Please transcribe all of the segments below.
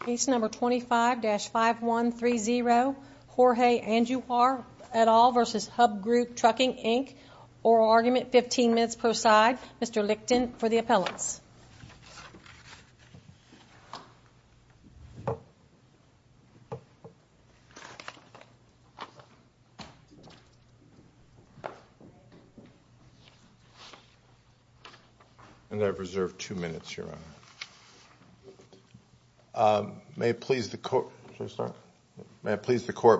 Case No. 25-5130, Jorge Andujar v. Hub Group Trucking Inc. Oral argument, 15 minutes per side. Mr. Lichten for the appellants. And I reserve two minutes, Your Honor. May it please the Court.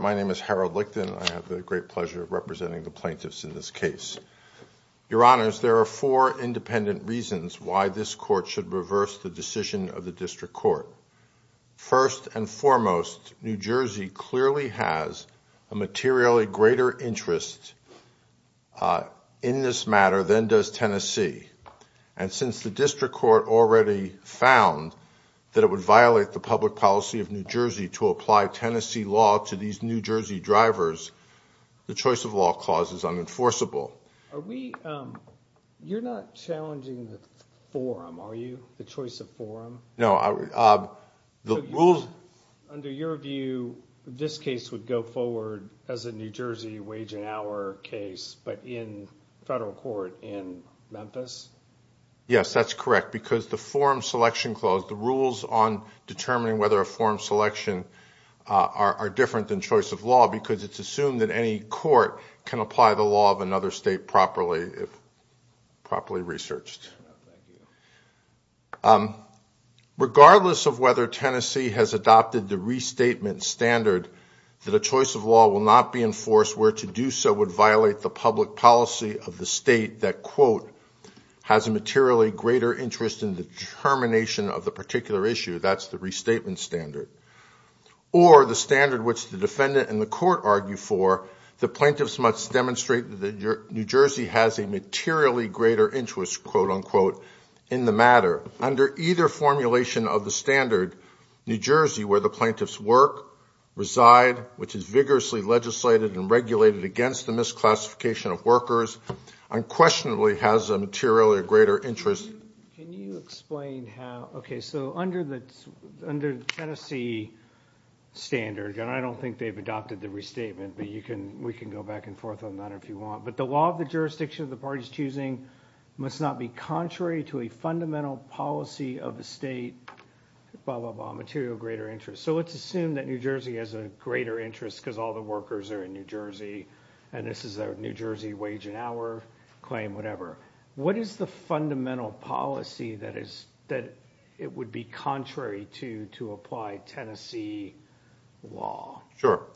My name is Harold Lichten. I have the great pleasure of representing the plaintiffs in this case. Your Honors, there are four independent reasons why this Court should reverse the decision of the District Court. First and foremost, New Jersey clearly has a materially greater interest in this matter than does Tennessee. And since the District Court already found that it would violate the public policy of New Jersey to apply Tennessee law to these New Jersey drivers, the choice of law clause is unenforceable. You're not challenging the forum, are you? The choice of forum? No, the rules... Under your view, this case would go forward as a New Jersey wage and hour case, but in federal court in Memphis? Yes, that's correct, because the forum selection clause, the rules on determining whether a forum selection are different than choice of law, because it's assumed that any court can apply the law of another state properly if properly researched. Regardless of whether Tennessee has adopted the restatement standard that a choice of law will not be enforced, where to do so would violate the public policy of the state that, quote, has a materially greater interest in the determination of the particular issue, that's the restatement standard, or the standard which the defendant and the court argue for, the plaintiffs must demonstrate that New Jersey has a materially greater interest, quote, unquote, in the matter. Under either formulation of the standard, New Jersey, where the plaintiffs work, reside, which is vigorously legislated and regulated against the misclassification of workers, unquestionably has a materially greater interest. Can you explain how... Okay, so under the Tennessee standard, and I don't think they've adopted the restatement, but we can go back and forth on that if you want, but the law of the jurisdiction of the parties choosing must not be contrary to a fundamental policy of the state, blah, blah, blah, materially greater interest. So let's assume that New Jersey has a greater interest because all the workers are in New Jersey, and this is a New Jersey wage and hour claim, whatever. What is the fundamental policy that it would be contrary to to apply Tennessee law? Sure.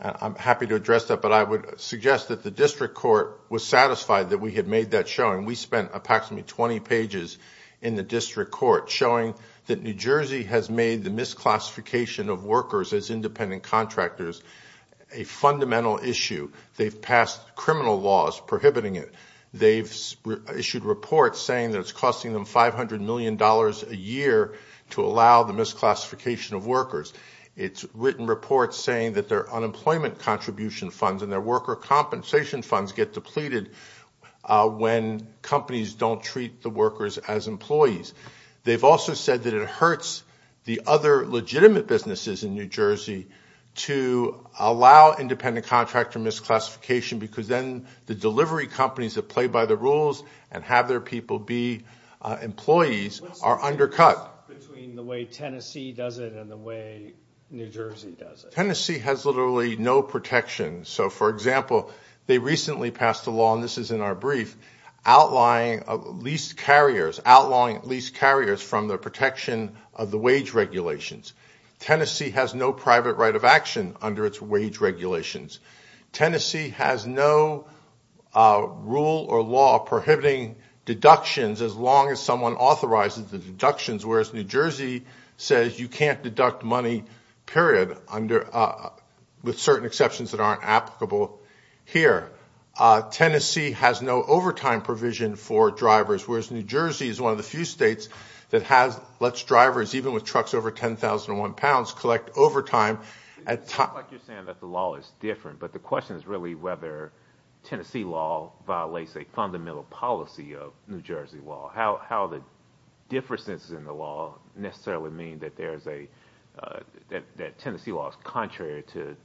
I'm happy to address that, but I would suggest that the district court was satisfied that we had made that showing. We spent approximately 20 pages in the district court showing that New Jersey has made the misclassification of workers as independent contractors a fundamental issue. They've passed criminal laws prohibiting it. They've issued reports saying that it's costing them $500 million a year to allow the misclassification of workers. It's written reports saying that their unemployment contribution funds and their worker compensation funds get depleted when companies don't treat the workers as employees. They've also said that it hurts the other legitimate businesses in New Jersey to allow independent contractor misclassification because then the delivery companies that play by the rules and have their people be employees are undercut. What's the difference between the way Tennessee does it and the way New Jersey does it? Tennessee has literally no protection. So, for example, they recently passed a law, and this is in our brief, outlawing lease carriers from the protection of the wage regulations. Tennessee has no private right of action under its wage regulations. Tennessee has no rule or law prohibiting deductions as long as someone authorizes the deductions, whereas New Jersey says you can't deduct money, period, with certain exceptions that aren't applicable here. Tennessee has no overtime provision for drivers, whereas New Jersey is one of the few states that lets drivers, even with trucks over 10,001 pounds, collect overtime. It sounds like you're saying that the law is different, but the question is really whether Tennessee law violates a fundamental policy of New Jersey law. How the differences in the law necessarily mean that Tennessee law is contrary to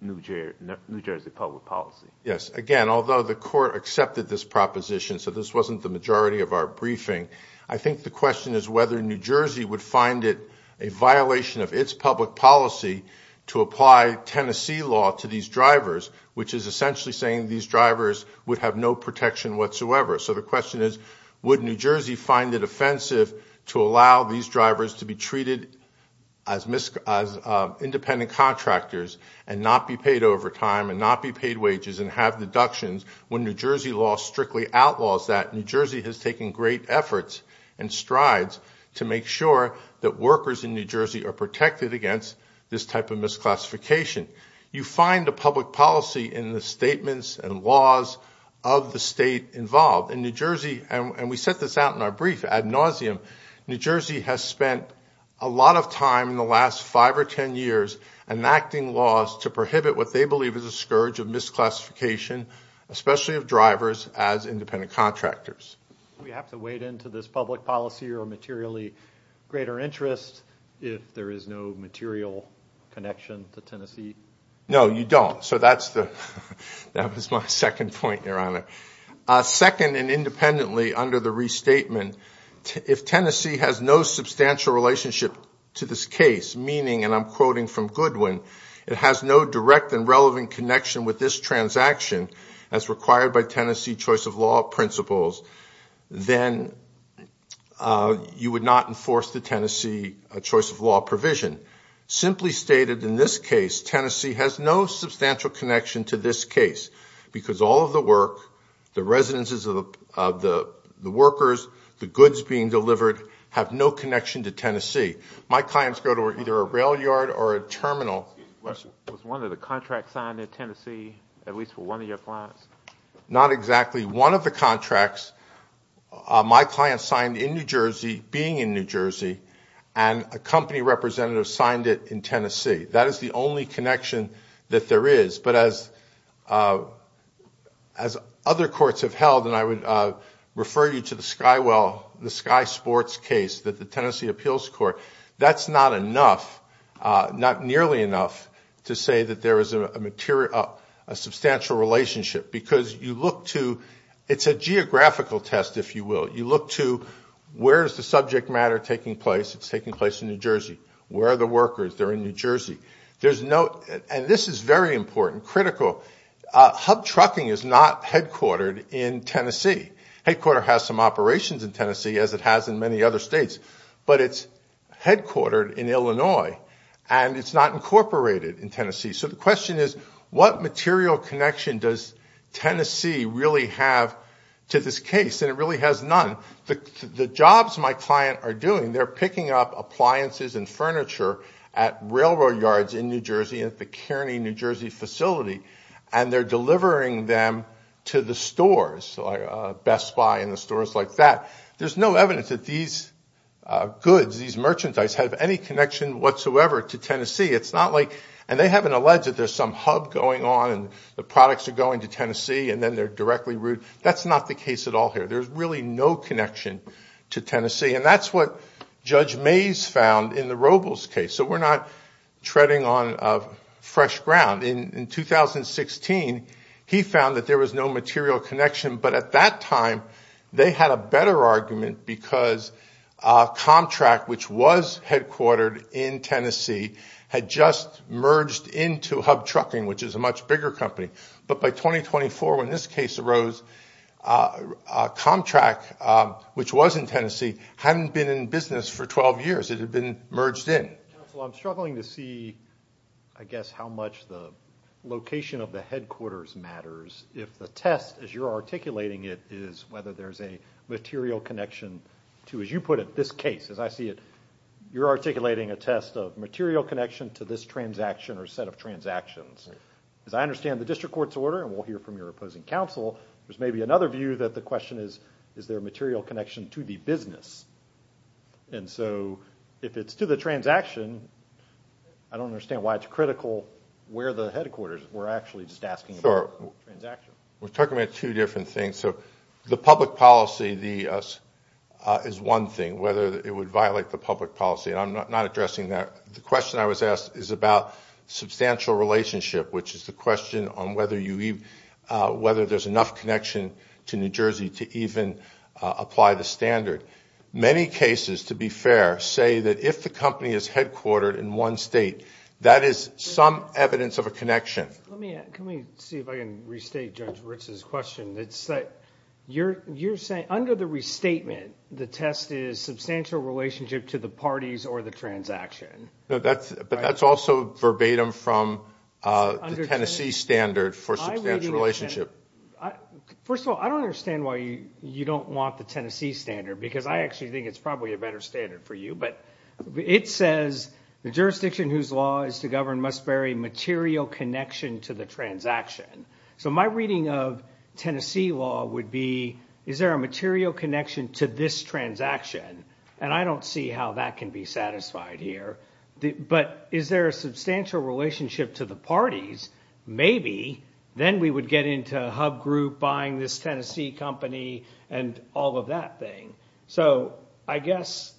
New Jersey public policy? Yes, again, although the court accepted this proposition, so this wasn't the majority of our briefing, I think the question is whether New Jersey would find it a violation of its public policy to apply Tennessee law to these drivers, which is essentially saying these drivers would have no protection whatsoever. So the question is, would New Jersey find it offensive to allow these drivers to be treated as independent contractors and not be paid overtime and not be paid wages and have deductions when New Jersey law strictly outlaws that? New Jersey has taken great efforts and strides to make sure that workers in New Jersey are protected against this type of misclassification. You find a public policy in the statements and laws of the state involved. In New Jersey, and we set this out in our brief ad nauseum, New Jersey has spent a lot of time in the last five or ten years enacting laws to prohibit what they believe is a scourge of misclassification, especially of drivers as independent contractors. Do we have to wade into this public policy or materially greater interest if there is no material connection to Tennessee? No, you don't. So that was my second point, Your Honor. Second, and independently under the restatement, if Tennessee has no substantial relationship to this case, meaning, and I'm quoting from Goodwin, it has no direct and relevant connection with this transaction as required by Tennessee choice of law principles, then you would not enforce the Tennessee choice of law provision. Simply stated, in this case, Tennessee has no substantial connection to this case because all of the work, the residences of the workers, the goods being delivered have no connection to Tennessee. My clients go to either a rail yard or a terminal. Was one of the contracts signed in Tennessee, at least for one of your clients? Not exactly. One of the contracts my client signed in New Jersey, being in New Jersey, and a company representative signed it in Tennessee. That is the only connection that there is. But as other courts have held, and I would refer you to the Skywell, the Sky Sports case that the Tennessee Appeals Court, that's not enough, not nearly enough, to say that there is a substantial relationship. Because you look to, it's a geographical test, if you will. You look to where is the subject matter taking place? It's taking place in New Jersey. Where are the workers? They're in New Jersey. And this is very important, critical. Hub trucking is not headquartered in Tennessee. Headquarter has some operations in Tennessee, as it has in many other states. But it's headquartered in Illinois. And it's not incorporated in Tennessee. So the question is, what material connection does Tennessee really have to this case? And it really has none. The jobs my client are doing, they're picking up appliances and furniture at railroad yards in New Jersey, at the Kearney, New Jersey facility, and they're delivering them to the stores, Best Buy and the stores like that. There's no evidence that these goods, these merchandise, have any connection whatsoever to Tennessee. It's not like, and they haven't alleged that there's some hub going on, and the products are going to Tennessee, and then they're directly routed. That's not the case at all here. There's really no connection to Tennessee. And that's what Judge Mays found in the Robles case. So we're not treading on fresh ground. In 2016, he found that there was no material connection. But at that time, they had a better argument because Comtrak, which was headquartered in Tennessee, had just merged into Hub Trucking, which is a much bigger company. But by 2024, when this case arose, Comtrak, which was in Tennessee, hadn't been in business for 12 years. It had been merged in. Counsel, I'm struggling to see, I guess, how much the location of the headquarters matters if the test, as you're articulating it, is whether there's a material connection to, as you put it, this case. As I see it, you're articulating a test of material connection to this transaction or set of transactions. As I understand the district court's order, and we'll hear from your opposing counsel, there's maybe another view that the question is, is there a material connection to the business? And so if it's to the transaction, I don't understand why it's critical where the headquarters. We're actually just asking about the transaction. We're talking about two different things. So the public policy is one thing, whether it would violate the public policy. And I'm not addressing that. The question I was asked is about substantial relationship, which is the question on whether there's enough connection to New Jersey to even apply the standard. Many cases, to be fair, say that if the company is headquartered in one state, that is some evidence of a connection. Let me see if I can restate Judge Ritz's question. You're saying under the restatement, the test is substantial relationship to the parties or the transaction. But that's also verbatim from the Tennessee standard for substantial relationship. First of all, I don't understand why you don't want the Tennessee standard, because I actually think it's probably a better standard for you. But it says the jurisdiction whose law is to govern must vary material connection to the transaction. So my reading of Tennessee law would be, is there a material connection to this transaction? And I don't see how that can be satisfied here. But is there a substantial relationship to the parties? Maybe. Then we would get into a hub group buying this Tennessee company and all of that thing. So I guess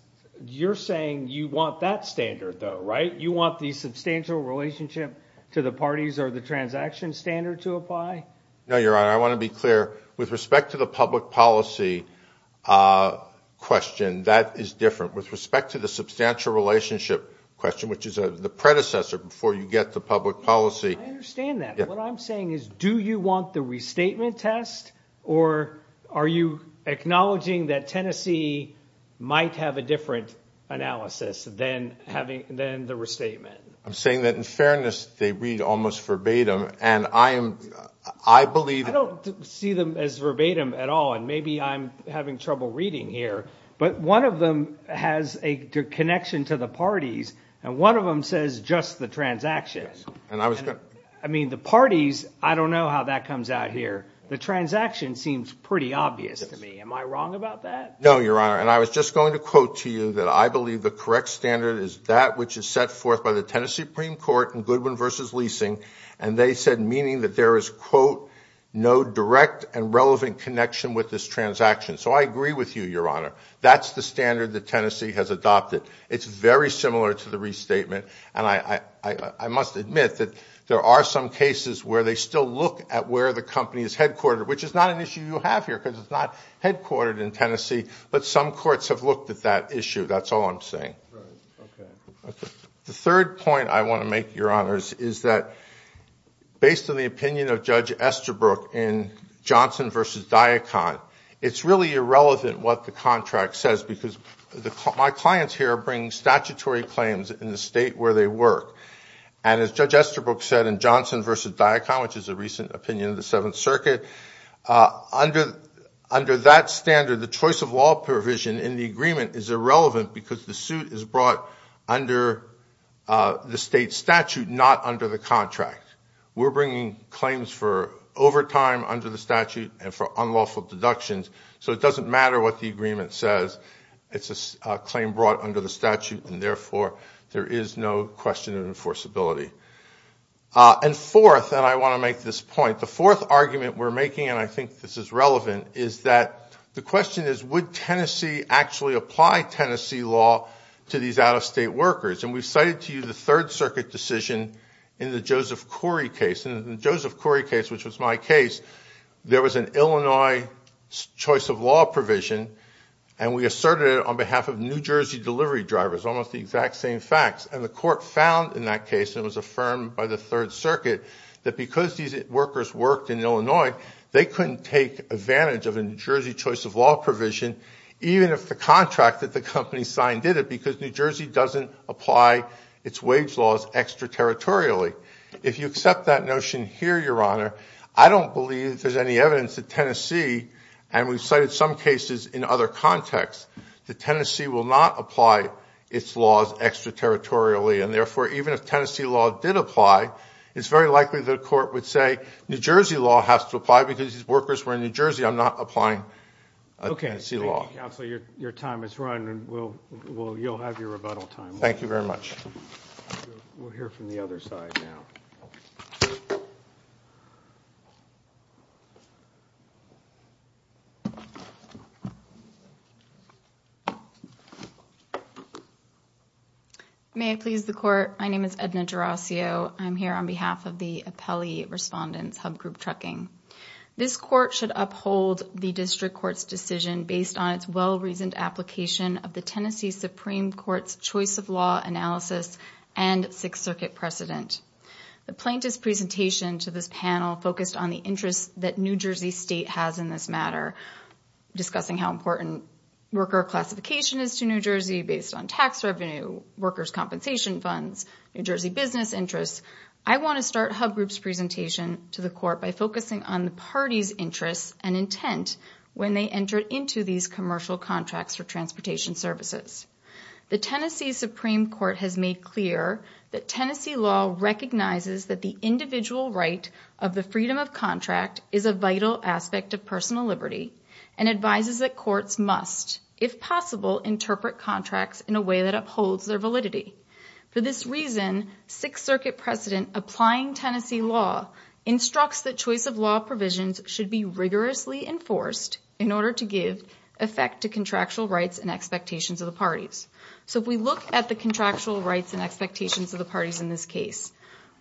you're saying you want that standard, though, right? You want the substantial relationship to the parties or the transaction standard to apply? No, Your Honor. I want to be clear. With respect to the public policy question, that is different. With respect to the substantial relationship question, which is the predecessor before you get to public policy. I understand that. What I'm saying is, do you want the restatement test, or are you acknowledging that Tennessee might have a different analysis than the restatement? I'm saying that, in fairness, they read almost verbatim. I don't see them as verbatim at all, and maybe I'm having trouble reading here. But one of them has a connection to the parties, and one of them says just the transaction. I mean, the parties, I don't know how that comes out here. The transaction seems pretty obvious to me. Am I wrong about that? No, Your Honor, and I was just going to quote to you that I believe the correct standard is that which is set forth by the Tennessee Supreme Court in Goodwin v. Leasing, and they said meaning that there is, quote, no direct and relevant connection with this transaction. So I agree with you, Your Honor. That's the standard that Tennessee has adopted. It's very similar to the restatement, and I must admit that there are some cases where they still look at where the company is headquartered, which is not an issue you have here because it's not headquartered in Tennessee, but some courts have looked at that issue. That's all I'm saying. The third point I want to make, Your Honors, is that based on the opinion of Judge Estabrook in Johnson v. Diacon, it's really irrelevant what the contract says because my clients here bring statutory claims in the state where they work. And as Judge Estabrook said in Johnson v. Diacon, which is a recent opinion of the Seventh Circuit, under that standard the choice of law provision in the agreement is irrelevant because the suit is brought under the state statute, not under the contract. We're bringing claims for overtime under the statute and for unlawful deductions, so it doesn't matter what the agreement says. It's a claim brought under the statute, and therefore there is no question of enforceability. And fourth, and I want to make this point, the fourth argument we're making, and I think this is relevant, is that the question is, would Tennessee actually apply Tennessee law to these out-of-state workers? And we've cited to you the Third Circuit decision in the Joseph Corey case. In the Joseph Corey case, which was my case, there was an Illinois choice of law provision, and we asserted it on behalf of New Jersey delivery drivers, almost the exact same facts. And the court found in that case, and it was affirmed by the Third Circuit, that because these workers worked in Illinois, they couldn't take advantage of a New Jersey choice of law provision, even if the contract that the company signed did it, because New Jersey doesn't apply its wage laws extraterritorially. If you accept that notion here, Your Honor, I don't believe there's any evidence that Tennessee, and we've cited some cases in other contexts, that Tennessee will not apply its laws extraterritorially, and therefore even if Tennessee law did apply, it's very likely the court would say, New Jersey law has to apply because these workers were in New Jersey, I'm not applying Tennessee law. Okay. Thank you, Counselor. Your time has run, and you'll have your rebuttal time. Thank you very much. We'll hear from the other side now. May I please the court? My name is Edna Gerasio. I'm here on behalf of the appellee respondents, Hub Group Trucking. This court should uphold the district court's decision based on its well-reasoned application of the Tennessee Supreme Court's choice of law analysis and Sixth Circuit precedent. The plaintiff's presentation to this panel focused on the interest that New Jersey State has in this matter, discussing how important worker classification is to New Jersey based on tax revenue, workers' compensation funds, New Jersey business interests. I want to start Hub Group's presentation to the court by focusing on the party's interests and intent when they entered into these commercial contracts for transportation services. The Tennessee Supreme Court has made clear that Tennessee law recognizes that the individual right of the freedom of contract is a vital aspect of personal liberty and advises that courts must, if possible, interpret contracts in a way that upholds their validity. For this reason, Sixth Circuit precedent applying Tennessee law instructs that choice of law provisions should be rigorously enforced in order to give effect to contractual rights and expectations of the parties. So if we look at the contractual rights and expectations of the parties in this case,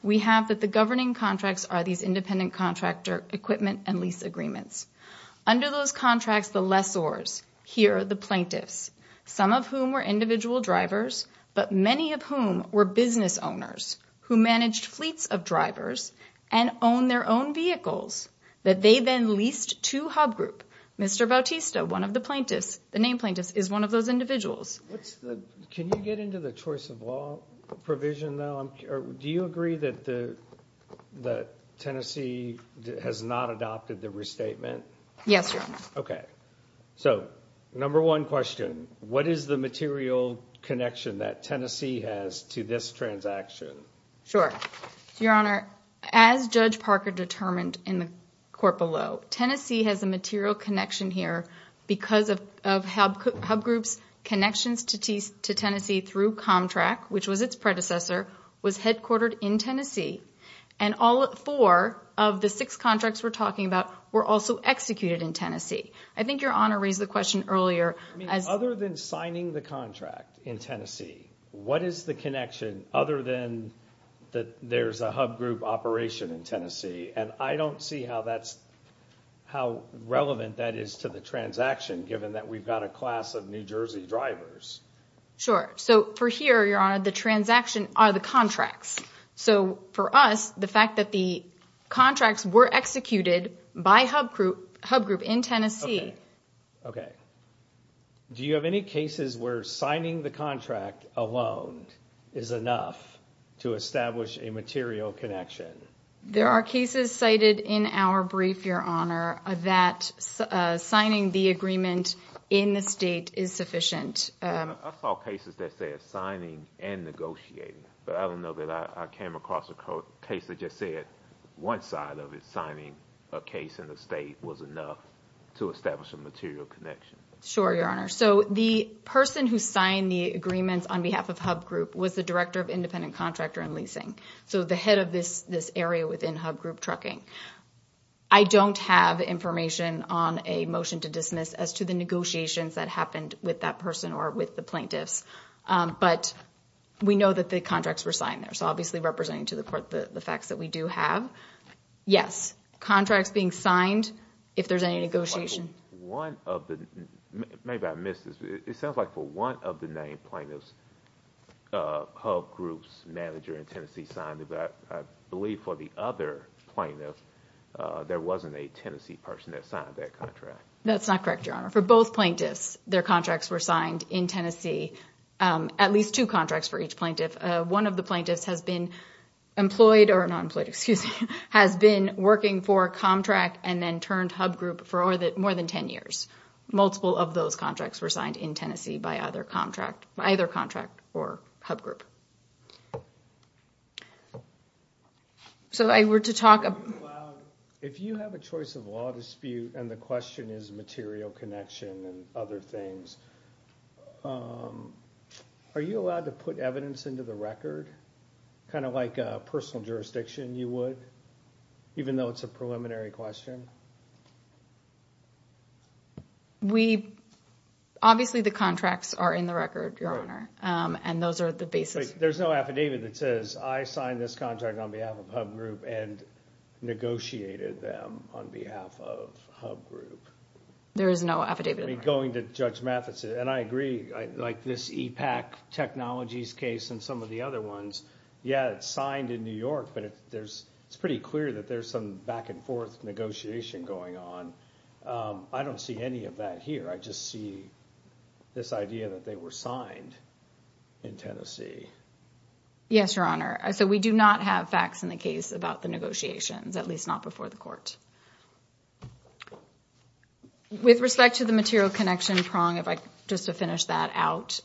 we have that the governing contracts are these independent contractor equipment and lease agreements. Under those contracts, the lessors, here the plaintiffs, some of whom were individual drivers, but many of whom were business owners who managed fleets of drivers and owned their own vehicles that they then leased to Hub Group. Mr. Bautista, one of the plaintiffs, the named plaintiff, is one of those individuals. Can you get into the choice of law provision, though? Do you agree that Tennessee has not adopted the restatement? Yes, Your Honor. Okay. So, number one question, what is the material connection that Tennessee has to this transaction? Sure. Your Honor, as Judge Parker determined in the court below, Tennessee has a material connection here because of Hub Group's connections to Tennessee through ComTrack, which was its predecessor, was headquartered in Tennessee. And all four of the six contracts we're talking about were also executed in Tennessee. I think Your Honor raised the question earlier. I mean, other than signing the contract in Tennessee, what is the connection other than that there's a Hub Group operation in Tennessee? And I don't see how relevant that is to the transaction, given that we've got a class of New Jersey drivers. Sure. So, for here, Your Honor, the transaction are the contracts. So, for us, the fact that the contracts were executed by Hub Group in Tennessee. Okay. Do you have any cases where signing the contract alone is enough to establish a material connection? There are cases cited in our brief, Your Honor, that signing the agreement in the state is sufficient. I saw cases that said signing and negotiating, but I don't know that I came across a case that just said one side of it, signing a case in the state was enough to establish a material connection. Sure, Your Honor. So, the person who signed the agreements on behalf of Hub Group was the director of independent contractor and leasing. So, the head of this area within Hub Group Trucking. I don't have information on a motion to dismiss as to the negotiations that happened with that person or with the plaintiffs, but we know that the contracts were signed there. So, obviously, representing to the court the facts that we do have. Yes, contracts being signed if there's any negotiation. Maybe I missed this. It sounds like for one of the named plaintiffs, Hub Group's manager in Tennessee signed it. But I believe for the other plaintiff, there wasn't a Tennessee person that signed that contract. That's not correct, Your Honor. For both plaintiffs, their contracts were signed in Tennessee, at least two contracts for each plaintiff. One of the plaintiffs has been employed or not employed, excuse me, has been working for a contract and then turned Hub Group for more than 10 years. Multiple of those contracts were signed in Tennessee by either contract or Hub Group. If you have a choice of law dispute and the question is material connection and other things, are you allowed to put evidence into the record? Kind of like a personal jurisdiction, you would, even though it's a preliminary question? Obviously, the contracts are in the record, Your Honor, and those are the basis. There's no affidavit that says, I signed this contract on behalf of Hub Group and negotiated them on behalf of Hub Group. There is no affidavit. Going to Judge Matheson, and I agree, like this E-PAC Technologies case and some of the other ones, yeah, it's signed in New York, but it's pretty clear that there's some back and forth negotiation going on. I don't see any of that here. I just see this idea that they were signed in Tennessee. Yes, Your Honor. We do not have facts in the case about the negotiations, at least not before the court. With respect to the material connection prong, just to finish that out,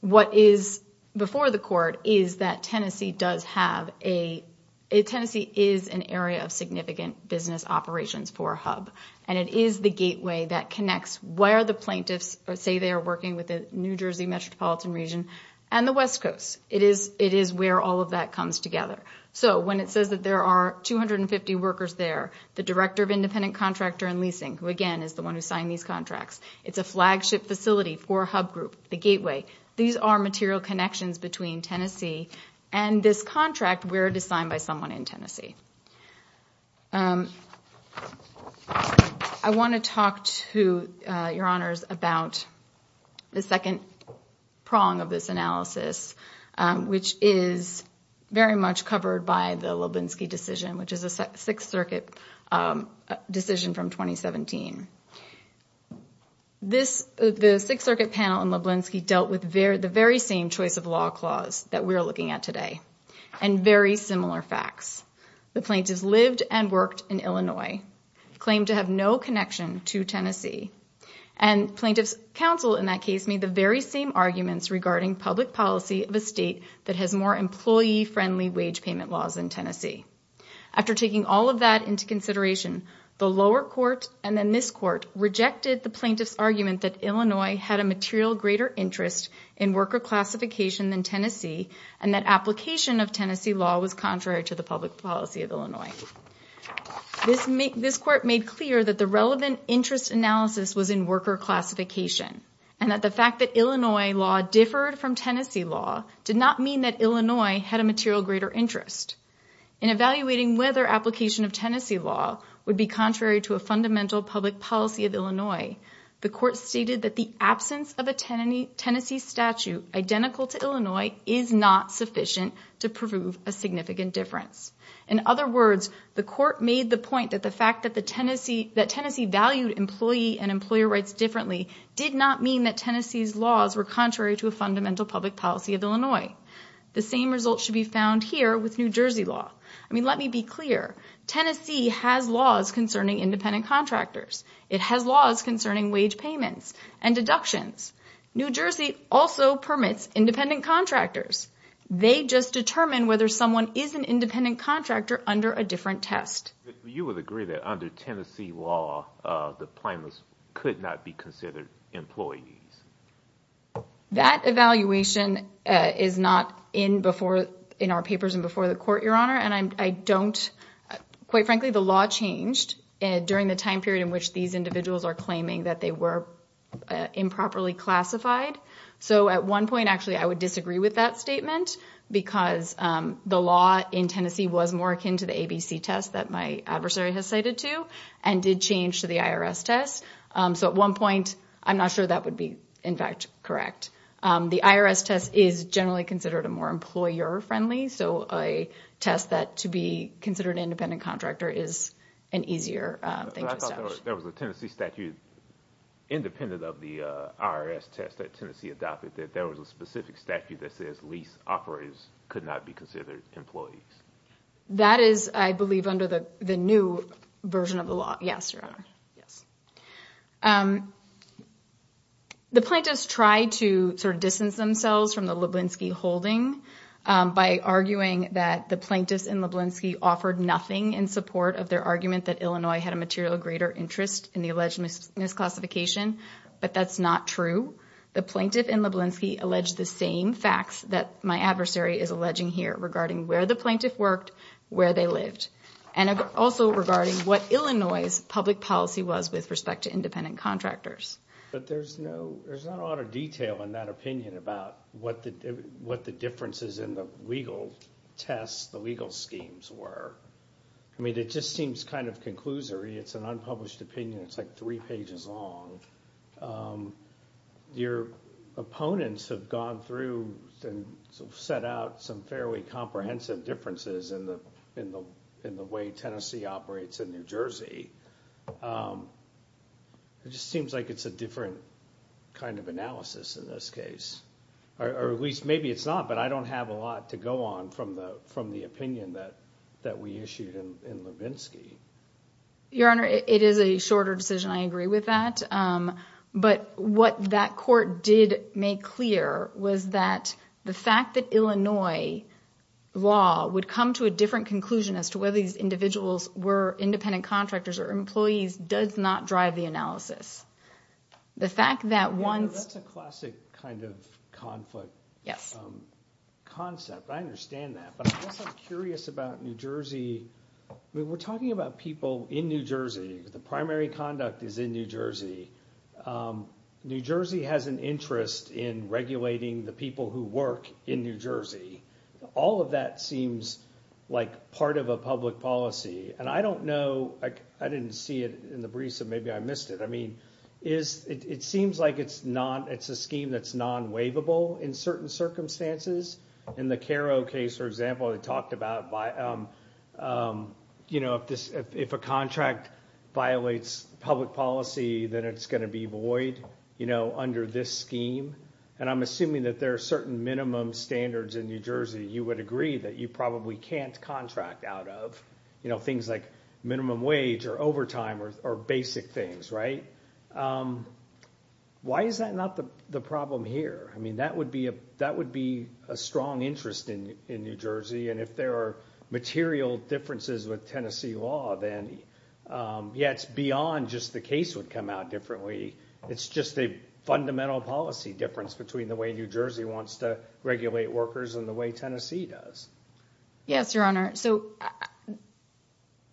what is before the court is that Tennessee does have a, Tennessee is an area of significant business operations for Hub, and it is the gateway that connects where the plaintiffs say they are working with the New Jersey metropolitan region and the West Coast. It is where all of that comes together. When it says that there are 250 workers there, the Director of Independent Contractor and Leasing, who again is the one who signed these contracts, it's a flagship facility for Hub Group, the gateway. These are material connections between Tennessee and this contract where it is signed by someone in Tennessee. I want to talk to Your Honors about the second prong of this analysis, which is very much covered by the Leblinsky decision, which is a Sixth Circuit decision from 2017. The Sixth Circuit panel in Leblinsky dealt with the very same choice of law clause that we are looking at today and very similar facts. The plaintiffs lived and worked in Illinois, claimed to have no connection to Tennessee, and plaintiffs' counsel in that case made the very same arguments regarding public policy of a state that has more employee-friendly wage payment laws than Tennessee. After taking all of that into consideration, the lower court and then this court rejected the plaintiffs' argument that Illinois had a material greater interest in worker classification than Tennessee and that application of Tennessee law was contrary to the public policy of Illinois. This court made clear that the relevant interest analysis was in worker classification and that the fact that Illinois law differed from Tennessee law did not mean that Illinois had a material greater interest. In evaluating whether application of Tennessee law would be contrary to a fundamental public policy of Illinois, the court stated that the absence of a Tennessee statute identical to Illinois is not sufficient to prove a significant difference. In other words, the court made the point that the fact that Tennessee valued employee and employer rights differently did not mean that Tennessee's laws were contrary to a fundamental public policy of Illinois. The same result should be found here with New Jersey law. Let me be clear. Tennessee has laws concerning independent contractors. It has laws concerning wage payments and deductions. New Jersey also permits independent contractors. They just determine whether someone is an independent contractor under a different test. You would agree that under Tennessee law, the plaintiffs could not be considered employees? That evaluation is not in our papers and before the court, Your Honor, and quite frankly, the law changed during the time period in which these individuals are claiming that they were improperly classified. So at one point, actually, I would disagree with that statement because the law in Tennessee was more akin to the ABC test that my adversary has cited to and did change to the IRS test. So at one point, I'm not sure that would be, in fact, correct. The IRS test is generally considered a more employer-friendly, so a test that to be considered an independent contractor is an easier thing to establish. There was a Tennessee statute independent of the IRS test that Tennessee adopted that there was a specific statute that says lease operators could not be considered employees. That is, I believe, under the new version of the law. Yes, Your Honor. The plaintiffs tried to distance themselves from the Leblinsky holding by arguing that the plaintiffs in Leblinsky offered nothing in support of their argument that Illinois had a material greater interest in the alleged misclassification, but that's not true. The plaintiff in Leblinsky alleged the same facts that my adversary is alleging here regarding where the plaintiff worked, where they lived, and also regarding what Illinois' public policy was with respect to independent contractors. But there's not a lot of detail in that opinion about what the differences in the legal tests, the legal schemes were. I mean, it just seems kind of conclusory. It's an unpublished opinion. It's like three pages long. Your opponents have gone through and set out some fairly comprehensive differences in the way Tennessee operates in New Jersey. It just seems like it's a different kind of analysis in this case, or at least maybe it's not, but I don't have a lot to go on from the opinion that we issued in Leblinsky. Your Honor, it is a shorter decision. I agree with that. But what that court did make clear was that the fact that Illinois law would come to a different conclusion as to whether these individuals were independent contractors or employees does not drive the analysis. The fact that once... That's a classic kind of conflict concept. I understand that. But I'm also curious about New Jersey. We're talking about people in New Jersey. The primary conduct is in New Jersey. New Jersey has an interest in regulating the people who work in New Jersey. All of that seems like part of a public policy. And I don't know... I didn't see it in the briefs, so maybe I missed it. It seems like it's a scheme that's non-waivable in certain circumstances. In the Caro case, for example, they talked about... If a contract violates public policy, then it's going to be void under this scheme. And I'm assuming that there are certain minimum standards in New Jersey you would agree that you probably can't contract out of. Things like minimum wage or overtime or basic things, right? Why is that not the problem here? I mean, that would be a strong interest in New Jersey. And if there are material differences with Tennessee law, then it's beyond just the case would come out differently. It's just a fundamental policy difference between the way New Jersey wants to regulate workers and the way Tennessee does. Yes, Your Honor.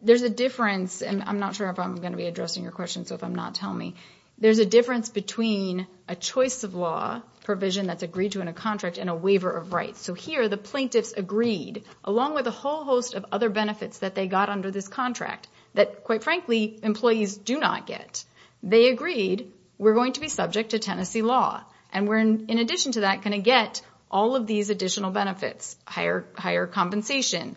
There's a difference, and I'm not sure if I'm going to be addressing your question, so if I'm not, tell me. There's a difference between a choice of law provision that's agreed to in a contract and a waiver of rights. So here, the plaintiffs agreed, along with a whole host of other benefits that they got under this contract that, quite frankly, employees do not get. They agreed, we're going to be subject to Tennessee law. And we're, in addition to that, going to get all of these additional benefits. Higher compensation,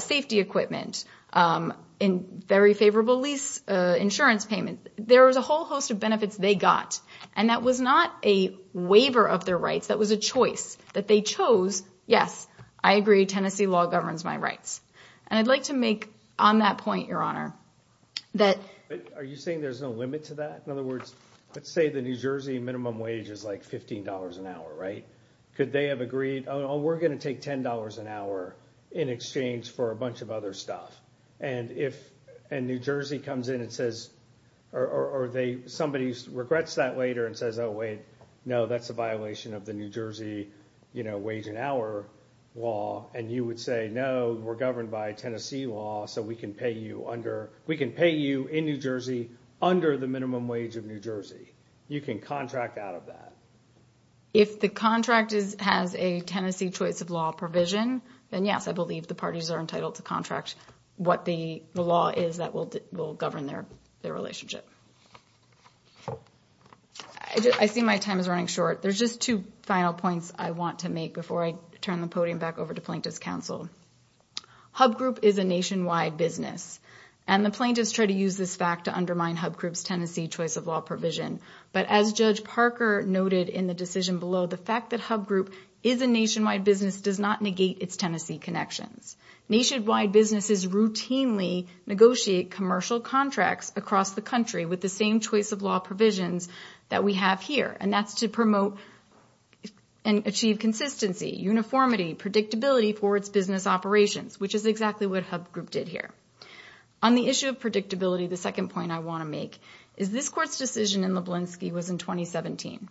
safety equipment, very favorable lease insurance payment. There was a whole host of benefits they got, and that was not a waiver of their rights. That was a choice that they chose. Yes, I agree, Tennessee law governs my rights. And I'd like to make on that point, Your Honor, that... Are you saying there's no limit to that? In other words, let's say the New Jersey minimum wage is like $15 an hour, right? Could they have agreed, oh, we're going to take $10 an hour in exchange for a bunch of other stuff. And New Jersey comes in and says, or somebody regrets that later and says, oh, wait, no, that's a violation of the New Jersey wage an hour law. And you would say, no, we're governed by Tennessee law, so we can pay you in New Jersey under the minimum wage of New Jersey. You can contract out of that. If the contract has a Tennessee choice of law provision, then, yes, I believe the parties are entitled to contract what the law is that will govern their relationship. I see my time is running short. There's just two final points I want to make before I turn the podium back over to Plaintiff's Counsel. HUB Group is a nationwide business, and the plaintiffs try to use this fact to undermine HUB Group's Tennessee choice of law provision. But as Judge Parker noted in the decision below, the fact that HUB Group is a nationwide business does not negate its Tennessee connections. Nationwide businesses routinely negotiate commercial contracts across the country with the same choice of law provisions that we have here, and that's to promote and achieve consistency, uniformity, predictability for its business operations, which is exactly what HUB Group did here. On the issue of predictability, the second point I want to make is this Court's decision in Leblinsky was in 2017,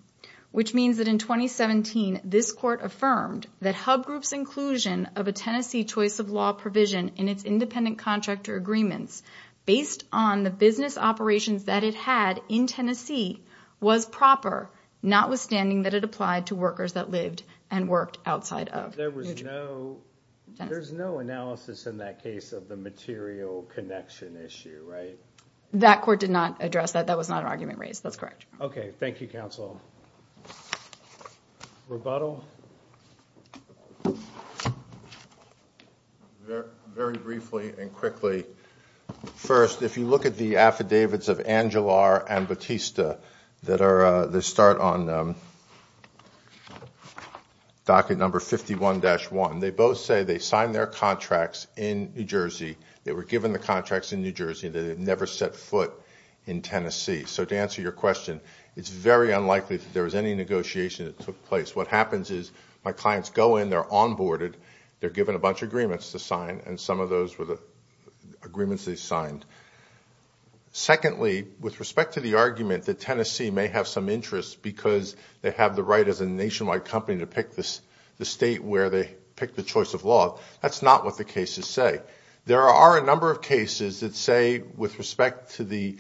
which means that in 2017, this Court affirmed that HUB Group's inclusion of a Tennessee choice of law provision in its independent contractor agreements based on the business operations that it had in Tennessee was proper, notwithstanding that it applied to workers that lived and worked outside of. There was no analysis in that case of the material connection issue, right? That Court did not address that. That was not an argument raised. That's correct. Okay. Thank you, Counsel. Rebuttal? Very briefly and quickly. First, if you look at the affidavits of Angelar and Batista that start on docket number 51-1, they both say they signed their contracts in New Jersey. They were given the contracts in New Jersey and they never set foot in Tennessee. So to answer your question, it's very unlikely that there was any negotiation that took place. What happens is my clients go in, they're onboarded, they're given a bunch of agreements to sign, and some of those were the agreements they signed. Secondly, with respect to the argument that Tennessee may have some interest because they have the right as a nationwide company to pick the state where they pick the choice of law, that's not what the cases say. There are a number of cases that say, with respect to the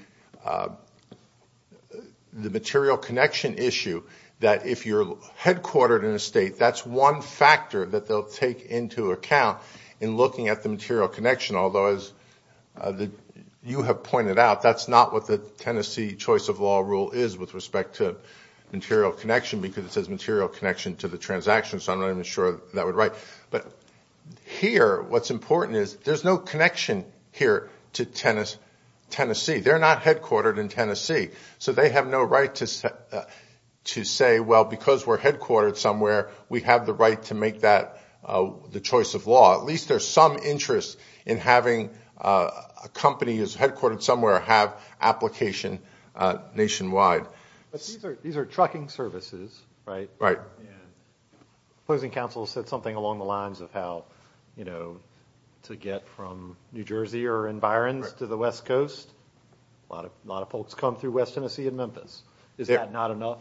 material connection issue, that if you're headquartered in a state, that's one factor that they'll take into account in looking at the material connection. Although, as you have pointed out, that's not what the Tennessee choice of law rule is with respect to material connection because it says material connection to the transaction, so I'm not even sure that would write. Here, what's important is there's no connection here to Tennessee. They're not headquartered in Tennessee, so they have no right to say, well, because we're headquartered somewhere, we have the right to make that the choice of law. At least there's some interest in having a company that's headquartered somewhere have application nationwide. These are trucking services, right? Right. Opposing counsel said something along the lines of how to get from New Jersey or in Byron's to the West Coast. A lot of folks come through West Tennessee and Memphis. Is that not enough?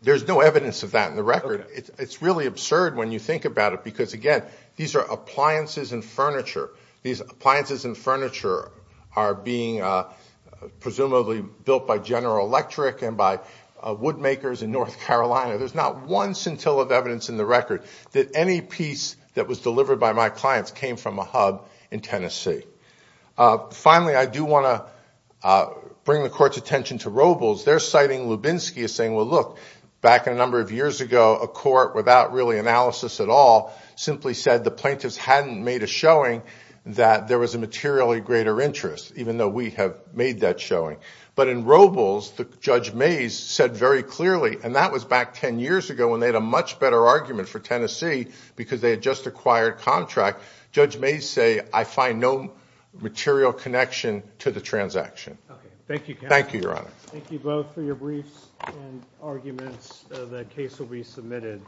There's no evidence of that in the record. It's really absurd when you think about it because, again, these are appliances and furniture. These appliances and furniture are being presumably built by General Electric and by woodmakers in North Carolina. There's not one scintilla of evidence in the record that any piece that was delivered by my clients came from a hub in Tennessee. Finally, I do want to bring the court's attention to Robles. They're citing Lubinsky as saying, well, look, back in a number of years ago, a court, without really analysis at all, simply said the plaintiffs hadn't made a showing that there was a materially greater interest, even though we have made that showing. But in Robles, Judge Mays said very clearly, and that was back 10 years ago when they had a much better argument for Tennessee because they had just acquired a contract. Judge Mays said, I find no material connection to the transaction. Thank you, counsel. Thank you, Your Honor. Thank you both for your briefs and arguments. The case will be submitted.